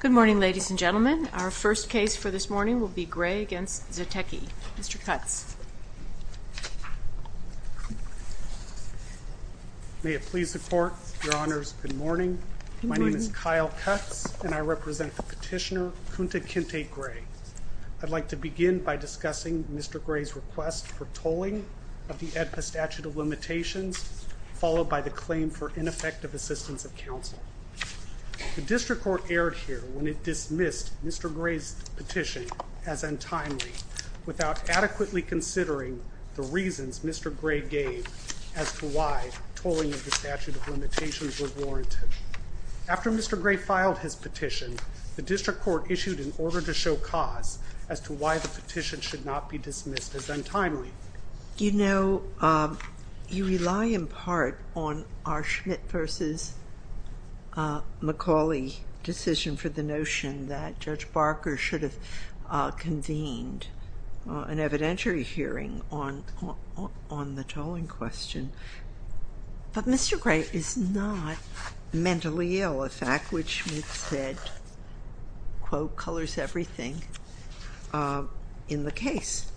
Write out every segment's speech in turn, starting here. Good morning, ladies and gentlemen. Our first case for this morning will be Gray v. Zatecky. Mr. Cutts. May it please the Court, Your Honors. Good morning. My name is Kyle Cutts, and I represent the petitioner, Kunta Kinte Gray. I'd like to begin by discussing Mr. Gray's request for tolling of the AEDPA statute of limitations, followed by the claim for ineffective assistance of counsel. The District Court erred here when it dismissed Mr. Gray's petition as untimely, without adequately considering the reasons Mr. Gray gave as to why tolling of the statute of limitations was warranted. After Mr. Gray filed his petition, the District Court issued an order to show cause as to why the petition should not be dismissed as untimely. You know, you rely in part on our Schmidt v. McCauley decision for the notion that Judge Barker should have convened an evidentiary hearing on the tolling question. But Mr. Gray is not mentally ill, a fact which we've said, quote, colors everything in the case.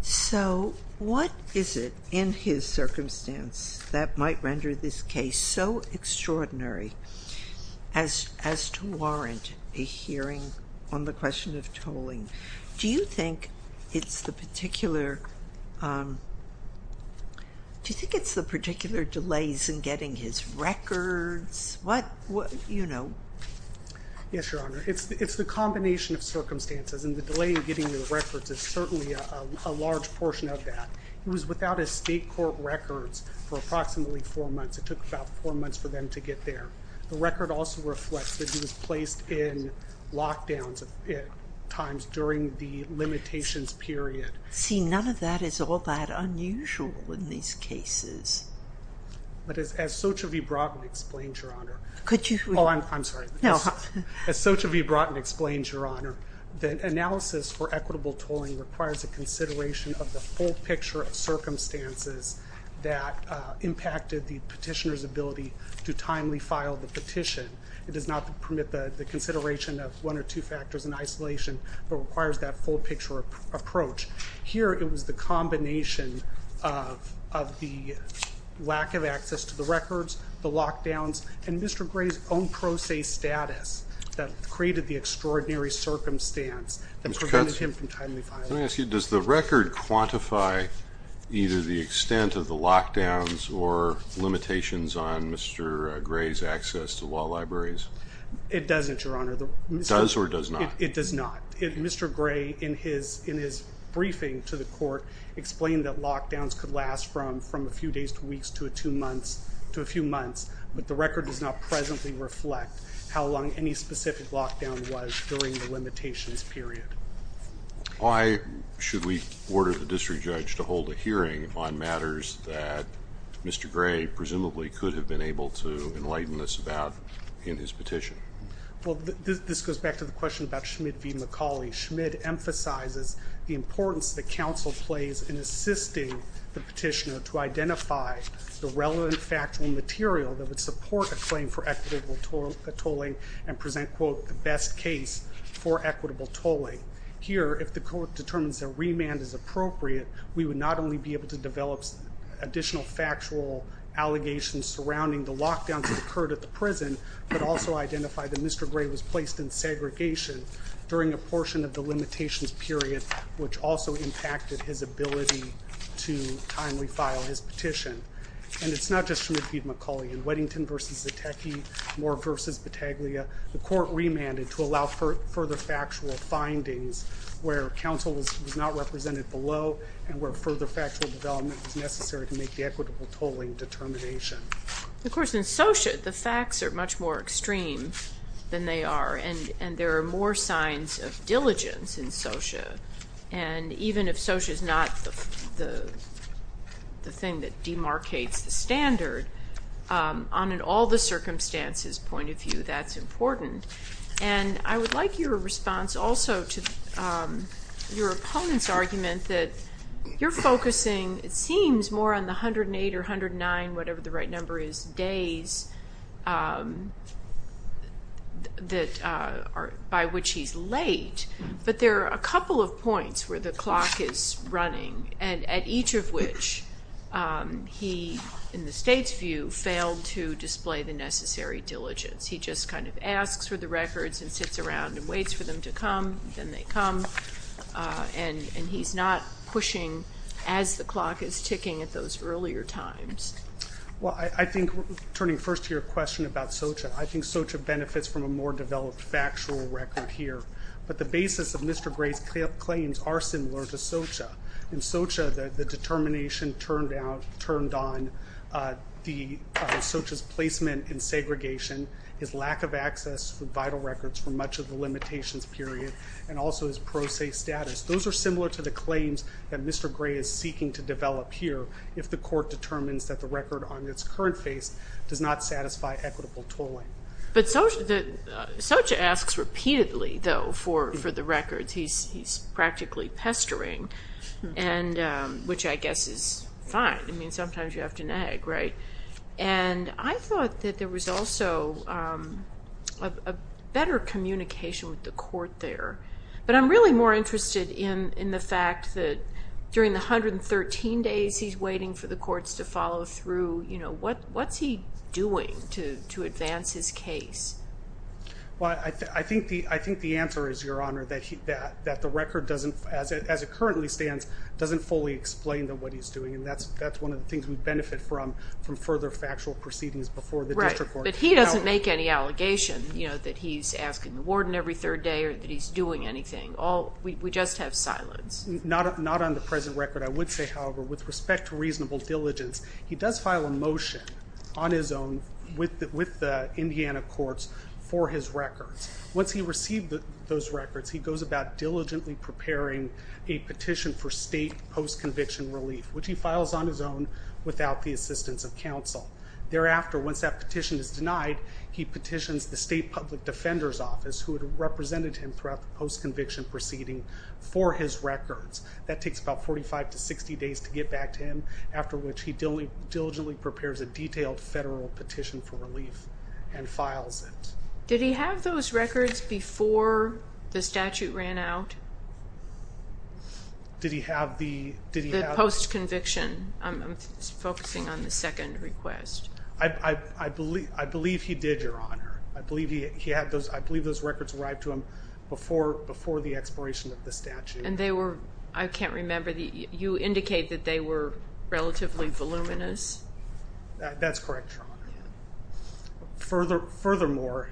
So what is it in his circumstance that might render this case so extraordinary as to warrant a hearing on the question of tolling? Do you think it's the particular, do you think it's the particular delays in getting his records? What, you know? Yes, Your Honor. It's the combination of circumstances, and the delay in getting the records is certainly a large portion of that. He was without his state court records for approximately four months. It took about four months for them to get there. The record also reflects that he was placed in lockdowns at times during the limitations period. See, none of that is all that unusual in these cases. But as Xochitl v. Broughton explains, Your Honor. Could you? Oh, I'm sorry. No. As Xochitl v. Broughton explains, Your Honor, the analysis for equitable tolling requires a consideration of the full picture of circumstances that impacted the petitioner's ability to timely file the petition. It does not permit the consideration of one or two factors in isolation, but requires that full picture approach. Here, it was the combination of the lack of access to the records, the lockdowns, and Mr. Gray's own pro se status that created the extraordinary circumstance that prevented him from timely filing. Let me ask you, does the record quantify either the extent of the lockdowns or limitations on Mr. Gray's access to wall libraries? It doesn't, Your Honor. It does or does not? It does not. Mr. Gray, in his briefing to the court, explained that lockdowns could last from a few days to weeks to a few months. But the record does not presently reflect how long any specific lockdown was during the limitations period. Why should we order the district judge to hold a hearing on matters that Mr. Gray presumably could have been able to enlighten us about in his petition? Well, this goes back to the question about Schmidt v. McCauley. Schmidt emphasizes the importance that counsel plays in assisting the petitioner to identify the relevant factual material that would support a claim for equitable tolling and present, quote, the best case for equitable tolling. Here, if the court determines that remand is appropriate, we would not only be able to develop additional factual allegations surrounding the lockdowns that occurred at the prison, but also identify that Mr. Gray was placed in segregation during a portion of the limitations period, which also impacted his ability to timely file his petition. And it's not just Schmidt v. McCauley. In Weddington v. Zetecky, Moore v. Battaglia, the court remanded to allow further factual findings where counsel was not represented below and where further factual development was necessary to make the equitable tolling determination. Of course, in SOCIA, the facts are much more extreme than they are, and there are more signs of diligence in SOCIA. And even if SOCIA is not the thing that demarcates the standard, on an all-the-circumstances point of view, that's important. And I would like your response also to your opponent's argument that you're focusing, it seems, more on the 108 or 109, whatever the right number is, days by which he's late. But there are a couple of points where the clock is running and at each of which he, in the state's view, failed to display the necessary diligence. He just kind of asks for the records and sits around and waits for them to come, then they come, and he's not pushing as the clock is ticking at those earlier times. Well, I think, turning first to your question about SOCIA, I think SOCIA benefits from a more developed factual record here. But the basis of Mr. Gray's claims are similar to SOCIA. In SOCIA, the determination turned on SOCIA's placement in segregation, his lack of access to vital records for much of the limitations period, and also his pro se status. Those are similar to the claims that Mr. Gray is seeking to develop here if the court determines that the record on its current face does not satisfy equitable tolling. But SOCIA asks repeatedly, though, for the records. He's practically pestering, which I guess is fine. I mean, sometimes you have to nag, right? And I thought that there was also a better communication with the court there. But I'm really more interested in the fact that during the 113 days he's waiting for the courts to follow through, what's he doing to advance his case? Well, I think the answer is, Your Honor, that the record, as it currently stands, doesn't fully explain what he's doing. And that's one of the things we benefit from, from further factual proceedings before the district court. But he doesn't make any allegation that he's asking the warden every third day or that he's doing anything. We just have silence. Not on the present record. I would say, however, with respect to reasonable diligence, he does file a motion on his own with the Indiana courts for his records. Once he received those records, he goes about diligently preparing a petition for state post-conviction relief, which he files on his own without the assistance of counsel. Thereafter, once that petition is denied, he petitions the state public defender's office, who had represented him throughout the post-conviction proceeding, for his records. That takes about 45 to 60 days to get back to him, after which he diligently prepares a detailed federal petition for relief and files it. Did he have those records before the statute ran out? Did he have the post-conviction? I'm focusing on the second request. I believe he did, Your Honor. I believe those records arrived to him before the expiration of the statute. And they were, I can't remember, you indicate that they were relatively voluminous? That's correct, Your Honor. Furthermore,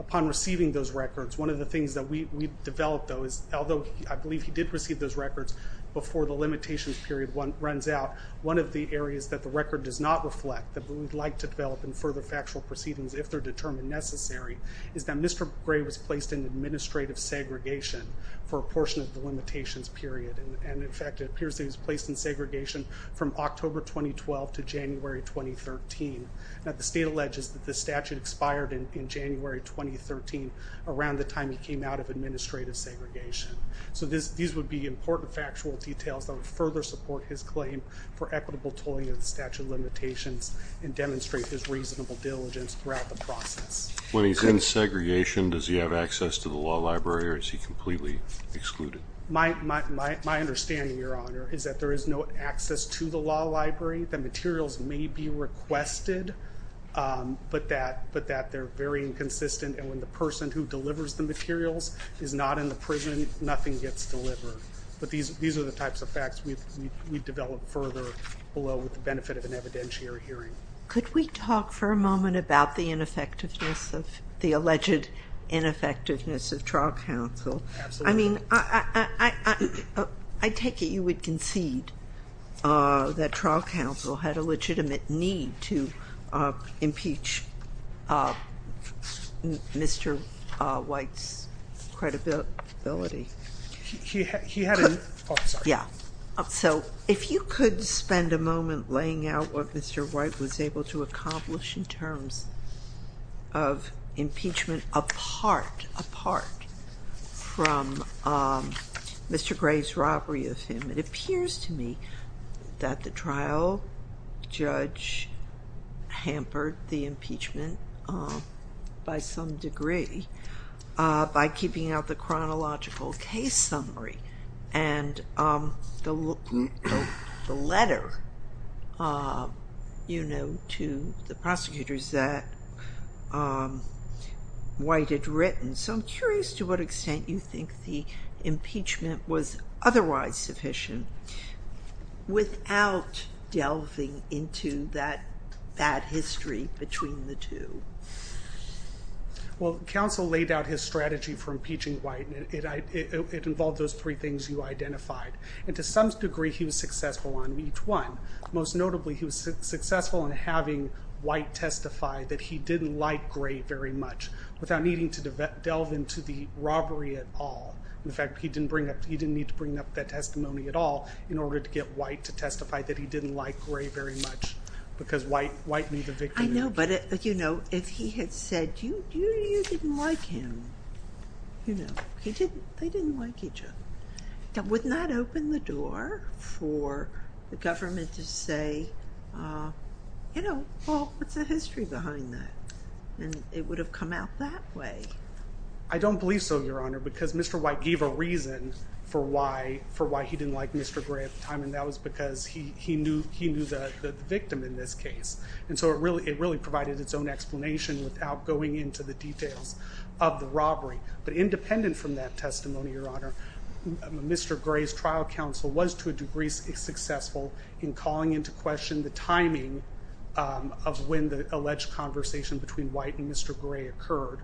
upon receiving those records, one of the things that we developed, though, is although I believe he did receive those records before the limitations period runs out, one of the areas that the record does not reflect that we would like to develop in further factual proceedings, if they're determined necessary, is that Mr. Gray was placed in administrative segregation for a portion of the limitations period. And, in fact, it appears that he was placed in segregation from October 2012 to January 2013. Now, the state alleges that the statute expired in January 2013, around the time he came out of administrative segregation. So these would be important factual details that would further support his claim for equitable tolling of the statute limitations and demonstrate his reasonable diligence throughout the process. When he's in segregation, does he have access to the law library, or is he completely excluded? My understanding, Your Honor, is that there is no access to the law library. The materials may be requested, but that they're very inconsistent. And when the person who delivers the materials is not in the prison, nothing gets delivered. But these are the types of facts we've developed further below with the benefit of an evidentiary hearing. Could we talk for a moment about the ineffectiveness of the alleged ineffectiveness of trial counsel? Absolutely. I mean, I take it you would concede that trial counsel had a legitimate need to impeach Mr. White's credibility? He had a- Yeah. So if you could spend a moment laying out what Mr. White was able to accomplish in terms of impeachment, apart from Mr. Gray's robbery of him. It appears to me that the trial judge hampered the impeachment by some degree by keeping out the chronological case summary. And the letter to the prosecutors that White had written. So I'm curious to what extent you think the impeachment was otherwise sufficient without delving into that bad history between the two. Well, counsel laid out his strategy for impeaching White. It involved those three things you identified. And to some degree, he was successful on each one. Most notably, he was successful in having White testify that he didn't like Gray very much without needing to delve into the robbery at all. In fact, he didn't need to bring up that testimony at all in order to get White to testify that he didn't like Gray very much because White knew the victim. I know, but if he had said, you didn't like him, they didn't like each other. That would not open the door for the government to say, you know, well, what's the history behind that? And it would have come out that way. I don't believe so, Your Honor, because Mr. White gave a reason for why he didn't like Mr. Gray at the time. And that was because he knew the victim in this case. And so it really provided its own explanation without going into the details of the robbery. But independent from that testimony, Your Honor, Mr. Gray's trial counsel was to a degree successful in calling into question the timing of when the alleged conversation between White and Mr. Gray occurred.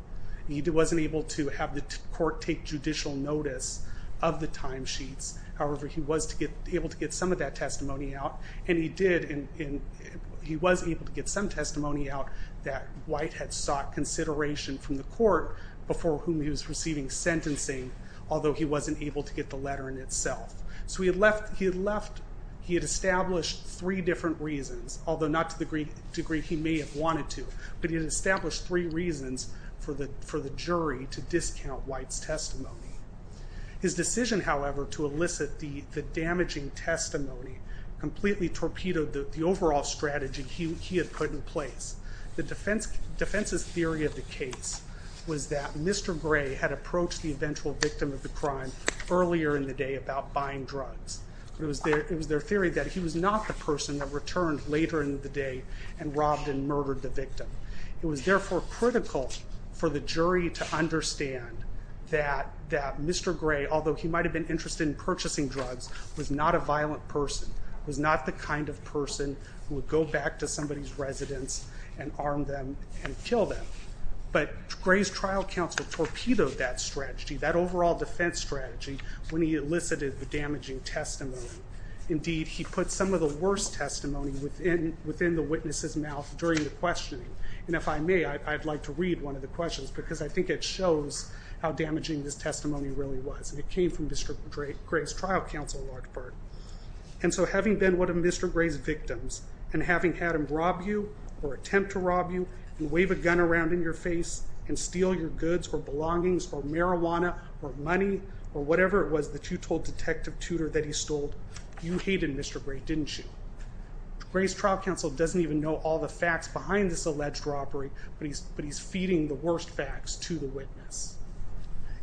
He wasn't able to have the court take judicial notice of the timesheets. However, he was able to get some of that testimony out. And he was able to get some testimony out that White had sought consideration from the court before whom he was receiving sentencing, although he wasn't able to get the letter in itself. So he had established three different reasons, although not to the degree he may have wanted to. But he had established three reasons for the jury to discount White's testimony. His decision, however, to elicit the damaging testimony completely torpedoed the overall strategy he had put in place. The defense's theory of the case was that Mr. Gray had approached the eventual victim of the crime earlier in the day about buying drugs. It was their theory that he was not the person that returned later in the day and robbed and murdered the victim. It was therefore critical for the jury to understand that Mr. Gray, although he might have been interested in purchasing drugs, was not a violent person, was not the kind of person who would go back to somebody's residence and arm them and kill them. But Gray's trial counsel torpedoed that strategy, that overall defense strategy, when he elicited the damaging testimony. Indeed, he put some of the worst testimony within the witness's mouth during the questioning. And if I may, I'd like to read one of the questions because I think it shows how damaging this testimony really was. And it came from Mr. Gray's trial counsel in large part. And so having been one of Mr. Gray's victims and having had him rob you or attempt to rob you and wave a gun around in your face and steal your goods or belongings or marijuana or money or whatever it was that you told Detective Tudor that he stole, you hated Mr. Gray, didn't you? Gray's trial counsel doesn't even know all the facts behind this alleged robbery, but he's feeding the worst facts to the witness.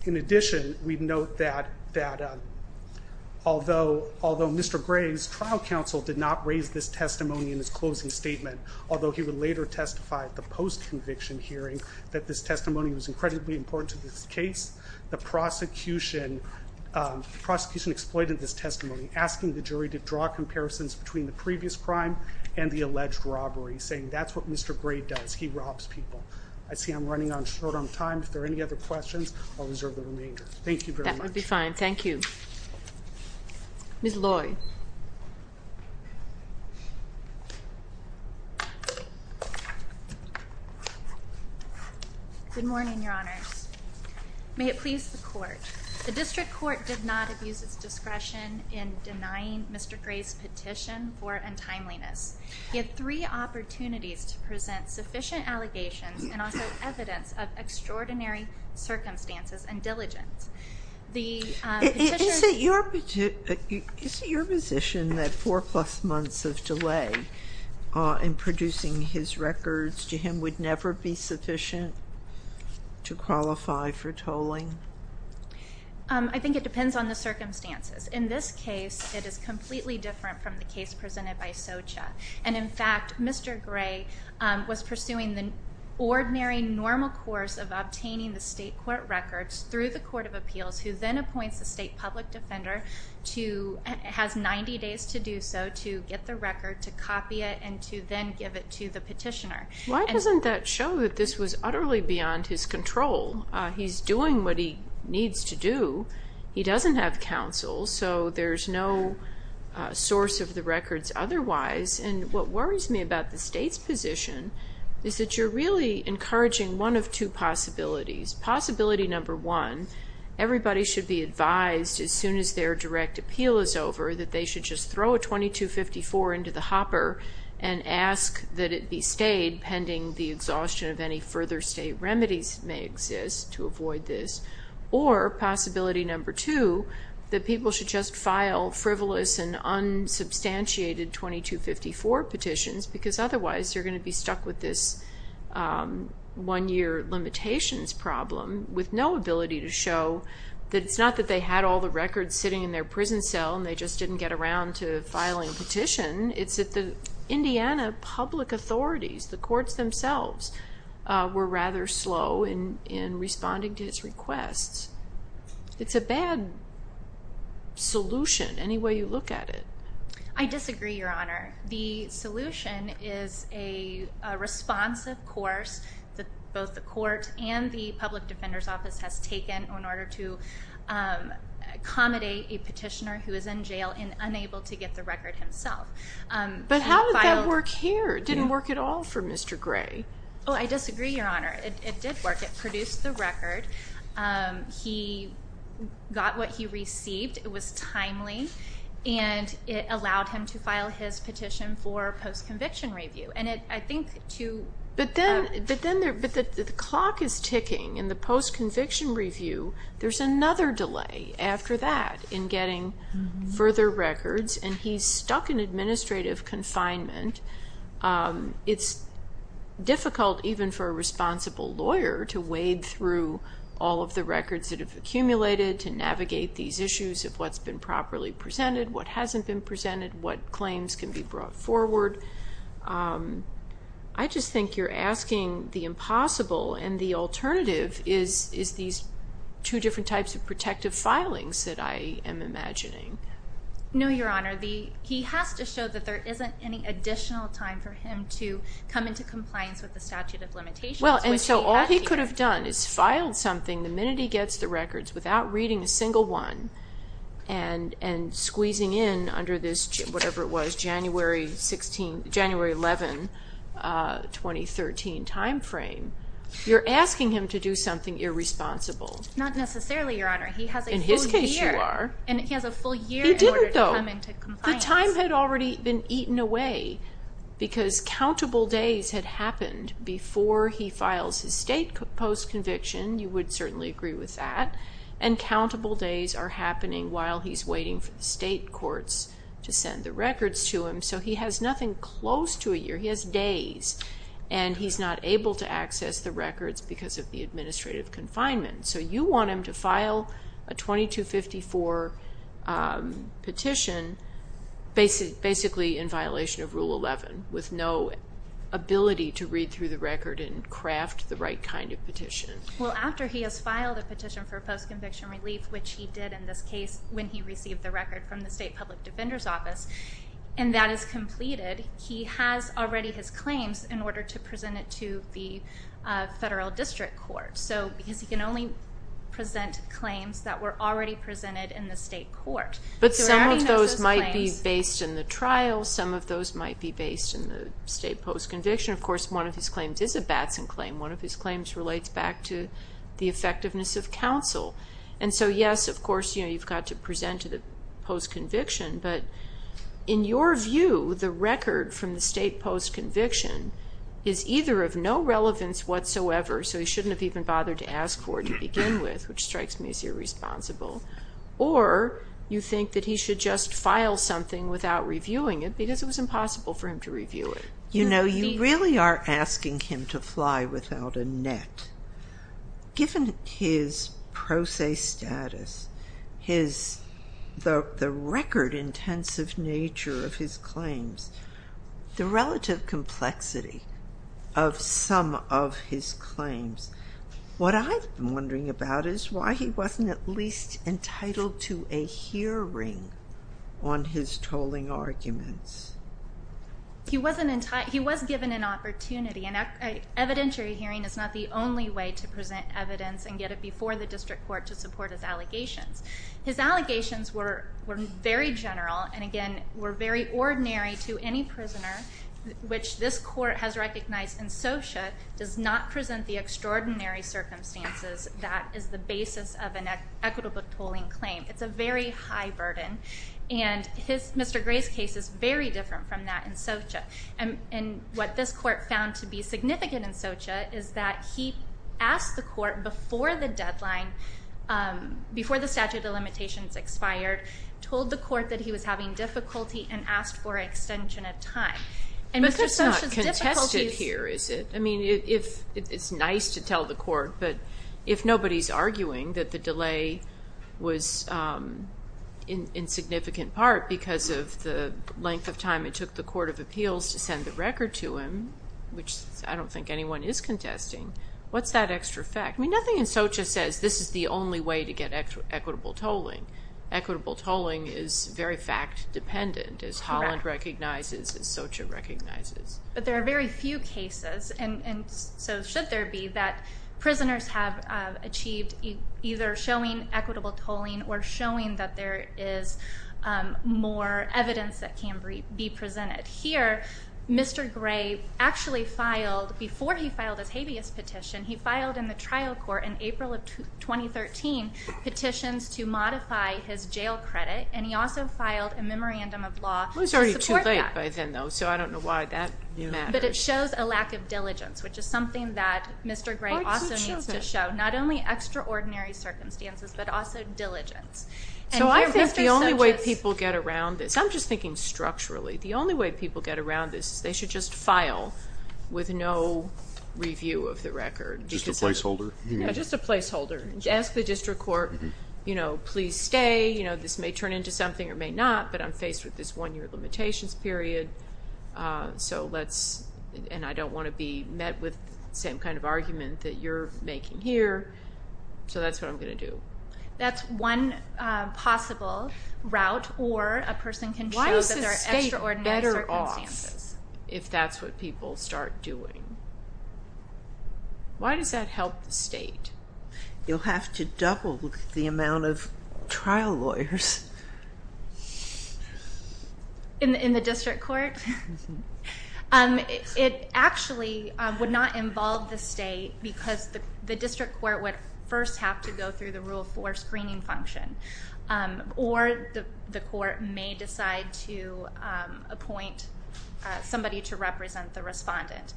In addition, we'd note that although Mr. Gray's trial counsel did not raise this testimony in his closing statement, although he would later testify at the post-conviction hearing that this testimony was incredibly important to this case, the prosecution exploited this testimony, asking the jury to draw comparisons between the previous crime and the alleged robbery, saying that's what Mr. Gray does. He robs people. I see I'm running short on time. If there are any other questions, I'll reserve the remainder. Thank you very much. That would be fine. Thank you. Ms. Loy. Good morning, Your Honors. May it please the court. The district court did not abuse its discretion in denying Mr. Gray's petition for untimeliness. He had three opportunities to present sufficient allegations and also evidence of extraordinary circumstances and diligence. Is it your position that four-plus months of delay in producing his records to him would never be sufficient to qualify for tolling? I think it depends on the circumstances. In this case, it is completely different from the case presented by Socha. And, in fact, Mr. Gray was pursuing the ordinary, normal course of obtaining the state court records through the Court of Appeals, who then appoints a state public defender who has 90 days to do so to get the record, to copy it, and to then give it to the petitioner. Why doesn't that show that this was utterly beyond his control? He's doing what he needs to do. He doesn't have counsel, so there's no source of the records otherwise. And what worries me about the state's position is that you're really encouraging one of two possibilities. Possibility number one, everybody should be advised as soon as their direct appeal is over that they should just throw a 2254 into the hopper and ask that it be stayed pending the exhaustion of any further state remedies that may exist to avoid this. Or, possibility number two, that people should just file frivolous and unsubstantiated 2254 petitions because otherwise they're going to be stuck with this one-year limitations problem with no ability to show that it's not that they had all the records sitting in their prison cell and they just didn't get around to filing a petition. It's that the Indiana public authorities, the courts themselves, were rather slow in responding to his requests. It's a bad solution any way you look at it. I disagree, Your Honor. The solution is a responsive course that both the court and the public defender's office has taken in order to accommodate a petitioner who is in jail and unable to get the record himself. But how did that work here? It didn't work at all for Mr. Gray. Oh, I disagree, Your Honor. It did work. It produced the record. He got what he received. It was timely. And it allowed him to file his petition for post-conviction review. But then the clock is ticking. In the post-conviction review, there's another delay after that in getting further records, and he's stuck in administrative confinement. It's difficult even for a responsible lawyer to wade through all of the records that have accumulated to navigate these issues of what's been properly presented, what hasn't been presented, what claims can be brought forward. I just think you're asking the impossible, and the alternative is these two different types of protective filings that I am imagining. No, Your Honor. He has to show that there isn't any additional time for him to come into compliance with the statute of limitations. Well, and so all he could have done is filed something the minute he gets the records without reading a single one and squeezing in under this, whatever it was, January 11, 2013 timeframe. You're asking him to do something irresponsible. Not necessarily, Your Honor. He has a full year. In his case, you are. And he has a full year in order to come into compliance. He didn't, though. The time had already been eaten away because countable days had happened before he files his state post-conviction. You would certainly agree with that. And countable days are happening while he's waiting for the state courts to send the records to him. So he has nothing close to a year. He has days, and he's not able to access the records because of the administrative confinement. So you want him to file a 2254 petition basically in violation of Rule 11 with no ability to read through the record and craft the right kind of petition. Well, after he has filed a petition for post-conviction relief, which he did in this case when he received the record from the state public defender's office, and that is completed, he has already his claims in order to present it to the federal district court because he can only present claims that were already presented in the state court. But some of those might be based in the trial. Some of those might be based in the state post-conviction. Of course, one of his claims is a Batson claim. One of his claims relates back to the effectiveness of counsel. And so, yes, of course, you've got to present to the post-conviction. But in your view, the record from the state post-conviction is either of no relevance whatsoever, so he shouldn't have even bothered to ask for it to begin with, which strikes me as irresponsible, or you think that he should just file something without reviewing it because it was impossible for him to review it. You know, you really are asking him to fly without a net. Given his pro se status, the record intensive nature of his claims, the relative complexity of some of his claims, what I'm wondering about is why he wasn't at least entitled to a hearing on his tolling arguments. He was given an opportunity, and an evidentiary hearing is not the only way to present evidence and get it before the district court to support his allegations. His allegations were very general and, again, were very ordinary to any prisoner, which this court has recognized in SOCIA does not present the extraordinary circumstances that is the basis of an equitable tolling claim. It's a very high burden, and Mr. Gray's case is very different from that in SOCIA. And what this court found to be significant in SOCIA is that he asked the court before the deadline, before the statute of limitations expired, told the court that he was having difficulty and asked for extension of time. But that's not contested here, is it? I mean, it's nice to tell the court, but if nobody's arguing that the delay was, in significant part, because of the length of time it took the court of appeals to send the record to him, which I don't think anyone is contesting, what's that extra fact? I mean, nothing in SOCIA says this is the only way to get equitable tolling. Equitable tolling is very fact-dependent, as Holland recognizes, as SOCIA recognizes. But there are very few cases, and so should there be, that prisoners have achieved either showing equitable tolling or showing that there is more evidence that can be presented. Here, Mr. Gray actually filed, before he filed his habeas petition, he filed in the trial court in April of 2013 petitions to modify his jail credit, and he also filed a memorandum of law to support that. It was already too late by then, though, so I don't know why that matters. But it shows a lack of diligence, which is something that Mr. Gray also needs to show, not only extraordinary circumstances but also diligence. So I think the only way people get around this, I'm just thinking structurally, the only way people get around this is they should just file with no review of the record. Just a placeholder? Just a placeholder. Ask the district court, you know, please stay. This may turn into something or may not, but I'm faced with this one-year limitations period, and I don't want to be met with the same kind of argument that you're making here. So that's what I'm going to do. That's one possible route, or a person can show that there are extraordinary circumstances. Why is the state better off if that's what people start doing? Why does that help the state? You'll have to double the amount of trial lawyers. In the district court? It actually would not involve the state, because the district court would first have to go through the Rule 4 screening function, or the court may decide to appoint somebody to represent the respondent.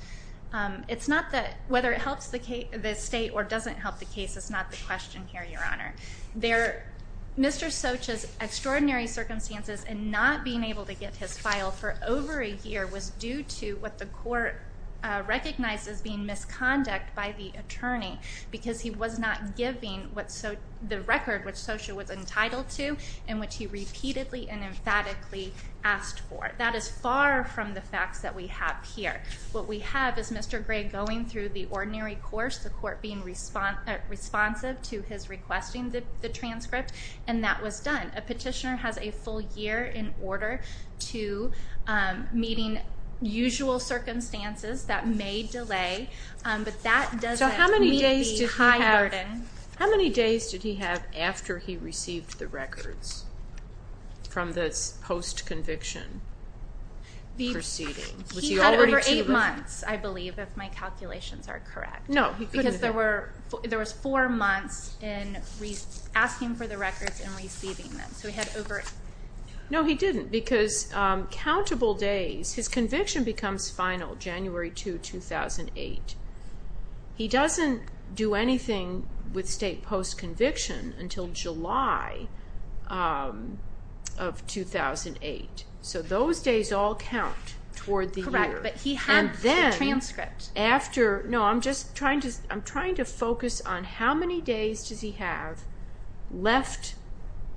Whether it helps the state or doesn't help the case is not the question here, Your Honor. Mr. Soch's extraordinary circumstances in not being able to get his file for over a year was due to what the court recognized as being misconduct by the attorney, because he was not giving the record which Soch was entitled to and which he repeatedly and emphatically asked for. That is far from the facts that we have here. What we have is Mr. Gray going through the ordinary course, the court being responsive to his requesting the transcript, and that was done. A petitioner has a full year in order to meeting usual circumstances that may delay, but that doesn't meet the high burden. How many days did he have after he received the records from this post-conviction proceeding? He had over eight months, I believe, if my calculations are correct. There were four months in asking for the records and receiving them. No, he didn't, because his conviction becomes final January 2, 2008. He doesn't do anything with state post-conviction until July of 2008. So those days all count toward the year. But he had the transcript. I'm trying to focus on how many days does he have left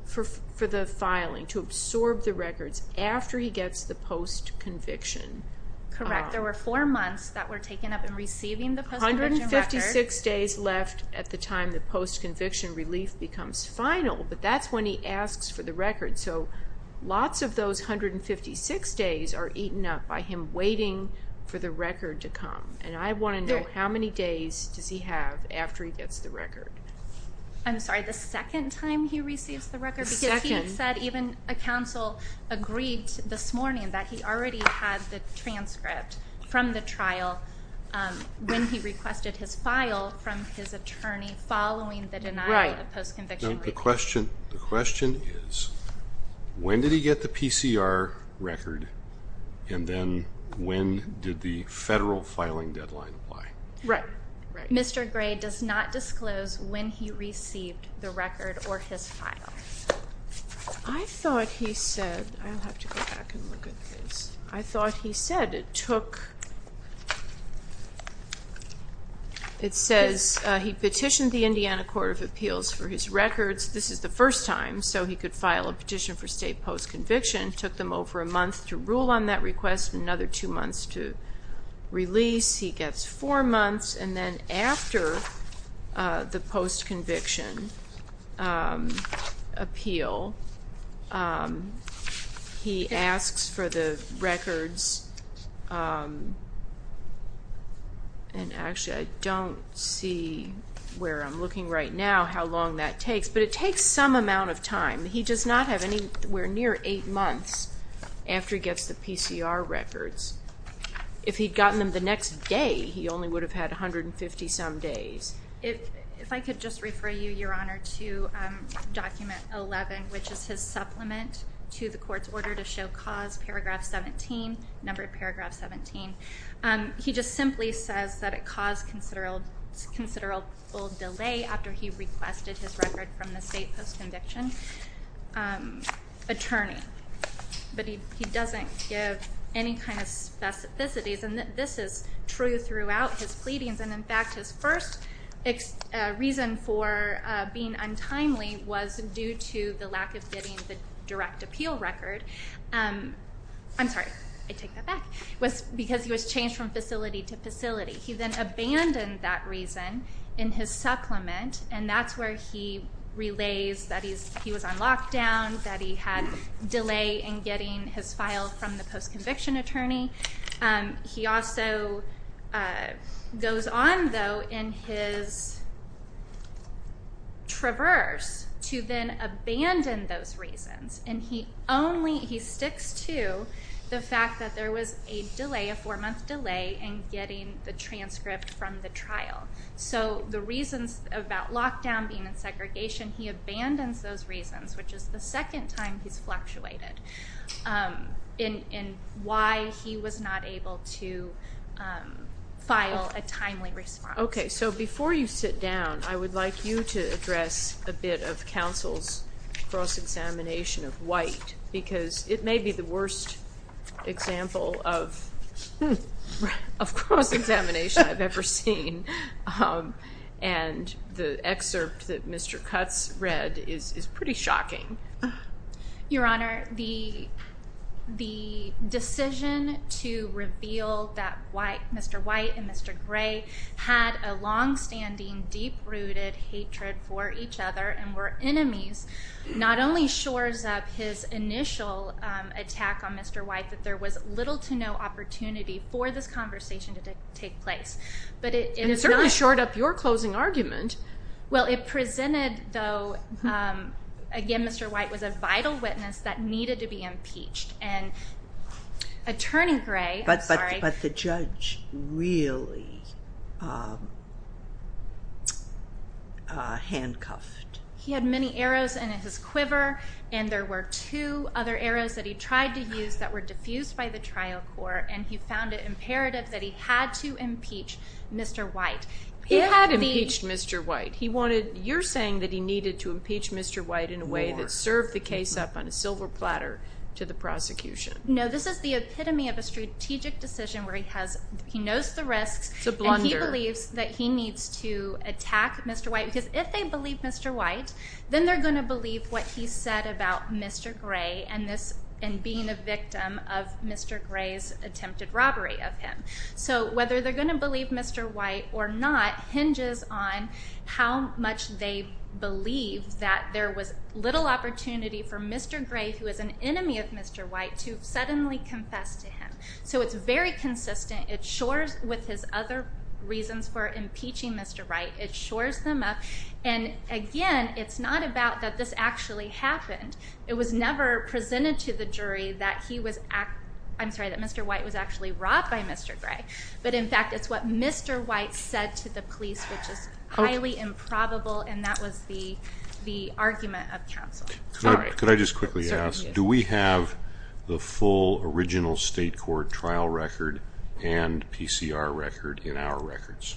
for the filing, to absorb the records, after he gets the post-conviction. Correct. There were four months that were taken up in receiving the post-conviction records. 156 days left at the time the post-conviction relief becomes final, but that's when he asks for the records. So lots of those 156 days are eaten up by him waiting for the record to come. And I want to know how many days does he have after he gets the record. I'm sorry, the second time he receives the record? The second. Because he said even a counsel agreed this morning that he already had the transcript from the trial when he requested his file from his attorney following the denial of post-conviction relief. The question is, when did he get the PCR record, and then when did the federal filing deadline apply? Right. Mr. Gray does not disclose when he received the record or his file. I thought he said, I'll have to go back and look at this, I thought he said it took, it says he petitioned the Indiana Court of Appeals for his records. This is the first time, so he could file a petition for state post-conviction, took them over a month to rule on that request, another two months to release. He gets four months, and then after the post-conviction appeal, he asks for the records, and actually I don't see where I'm looking right now how long that takes, but it takes some amount of time. He does not have anywhere near eight months after he gets the PCR records. If he'd gotten them the next day, he only would have had 150-some days. If I could just refer you, Your Honor, to document 11, which is his supplement to the court's order to show cause, paragraph 17, number paragraph 17. He just simply says that it caused considerable delay after he requested his record from the state post-conviction attorney, but he doesn't give any kind of specificities, and this is true throughout his pleadings. In fact, his first reason for being untimely was due to the lack of getting the direct appeal record. I'm sorry, I take that back. It was because he was changed from facility to facility. He then abandoned that reason in his supplement, and that's where he relays that he was on lockdown, that he had delay in getting his file from the post-conviction attorney. He also goes on, though, in his traverse to then abandon those reasons, and he sticks to the fact that there was a delay, a four-month delay, in getting the transcript from the trial. So the reasons about lockdown being in segregation, he abandons those reasons, which is the second time he's fluctuated in why he was not able to file a timely response. Okay, so before you sit down, I would like you to address a bit of counsel's cross-examination of White, because it may be the worst example of cross-examination I've ever seen, and the excerpt that Mr. Cutts read is pretty shocking. Your Honor, the decision to reveal that Mr. White and Mr. Gray had a longstanding, deep-rooted hatred for each other and were enemies not only shores up his initial attack on Mr. White, that there was little to no opportunity for this conversation to take place, but it is not... And it certainly shored up your closing argument. Well, it presented, though, again, Mr. White was a vital witness that needed to be impeached, and Attorney Gray... But the judge really handcuffed... He had many arrows in his quiver, and there were two other arrows that he tried to use that were diffused by the trial court, and he found it imperative that he had to impeach Mr. White. He had impeached Mr. White. You're saying that he needed to impeach Mr. White in a way that served the case up on a silver platter to the prosecution. No, this is the epitome of a strategic decision where he knows the risks... It's a blunder. ...and he believes that he needs to attack Mr. White because if they believe Mr. White, then they're going to believe what he said about Mr. Gray and being a victim of Mr. Gray's attempted robbery of him. So whether they're going to believe Mr. White or not hinges on how much they believe that there was little opportunity for Mr. Gray, who is an enemy of Mr. White, to suddenly confess to him. So it's very consistent. It shores with his other reasons for impeaching Mr. White. It shores them up. And, again, it's not about that this actually happened. It was never presented to the jury that he was act... I'm sorry, that Mr. White was actually robbed by Mr. Gray. But, in fact, it's what Mr. White said to the police, which is highly improbable, and that was the argument of counsel. Could I just quickly ask, do we have the full original state court trial record and PCR record in our records?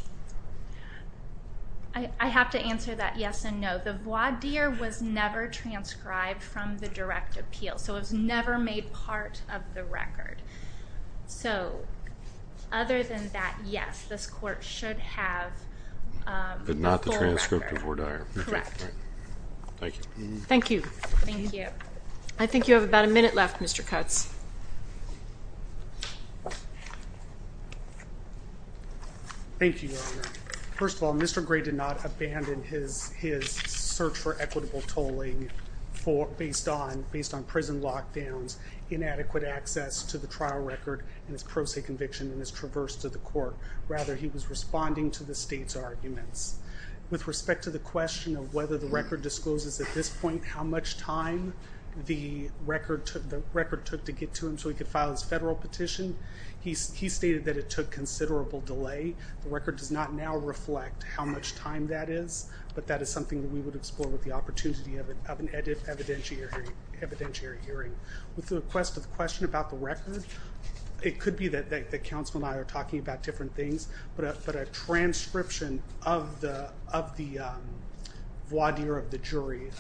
I have to answer that yes and no. The voir dire was never transcribed from the direct appeal, so it was never made part of the record. So other than that, yes, this court should have the full record. But not the transcript of voir dire. Correct. Thank you. Thank you. Thank you. I think you have about a minute left, Mr. Cutts. Thank you, Your Honor. First of all, Mr. Gray did not abandon his search for equitable tolling based on prison lockdowns, inadequate access to the trial record, and his pro se conviction and his traverse to the court. Rather, he was responding to the state's arguments. With respect to the question of whether the record discloses at this point how much time the record took to get to him so he could file his federal petition, he stated that it took considerable delay. The record does not now reflect how much time that is, but that is something that we would explore with the opportunity of an evidentiary hearing. With the request of the question about the record, it could be that counsel and I are talking about different things, but a transcription of the voir dire of the jury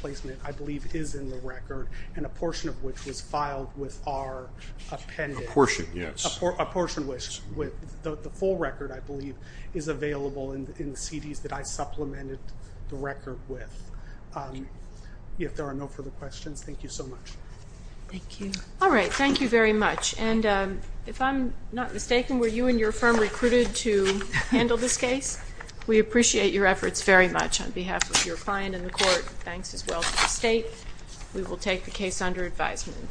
placement, I believe, is in the record, and a portion of which was filed with our appendix. A portion, yes. A portion, which the full record, I believe, is available in the CDs that I supplemented the record with. If there are no further questions, thank you so much. Thank you. All right. Thank you very much. And if I'm not mistaken, were you and your firm recruited to handle this case? We appreciate your efforts very much. On behalf of your client and the court, thanks as well to the state. We will take the case under advisement.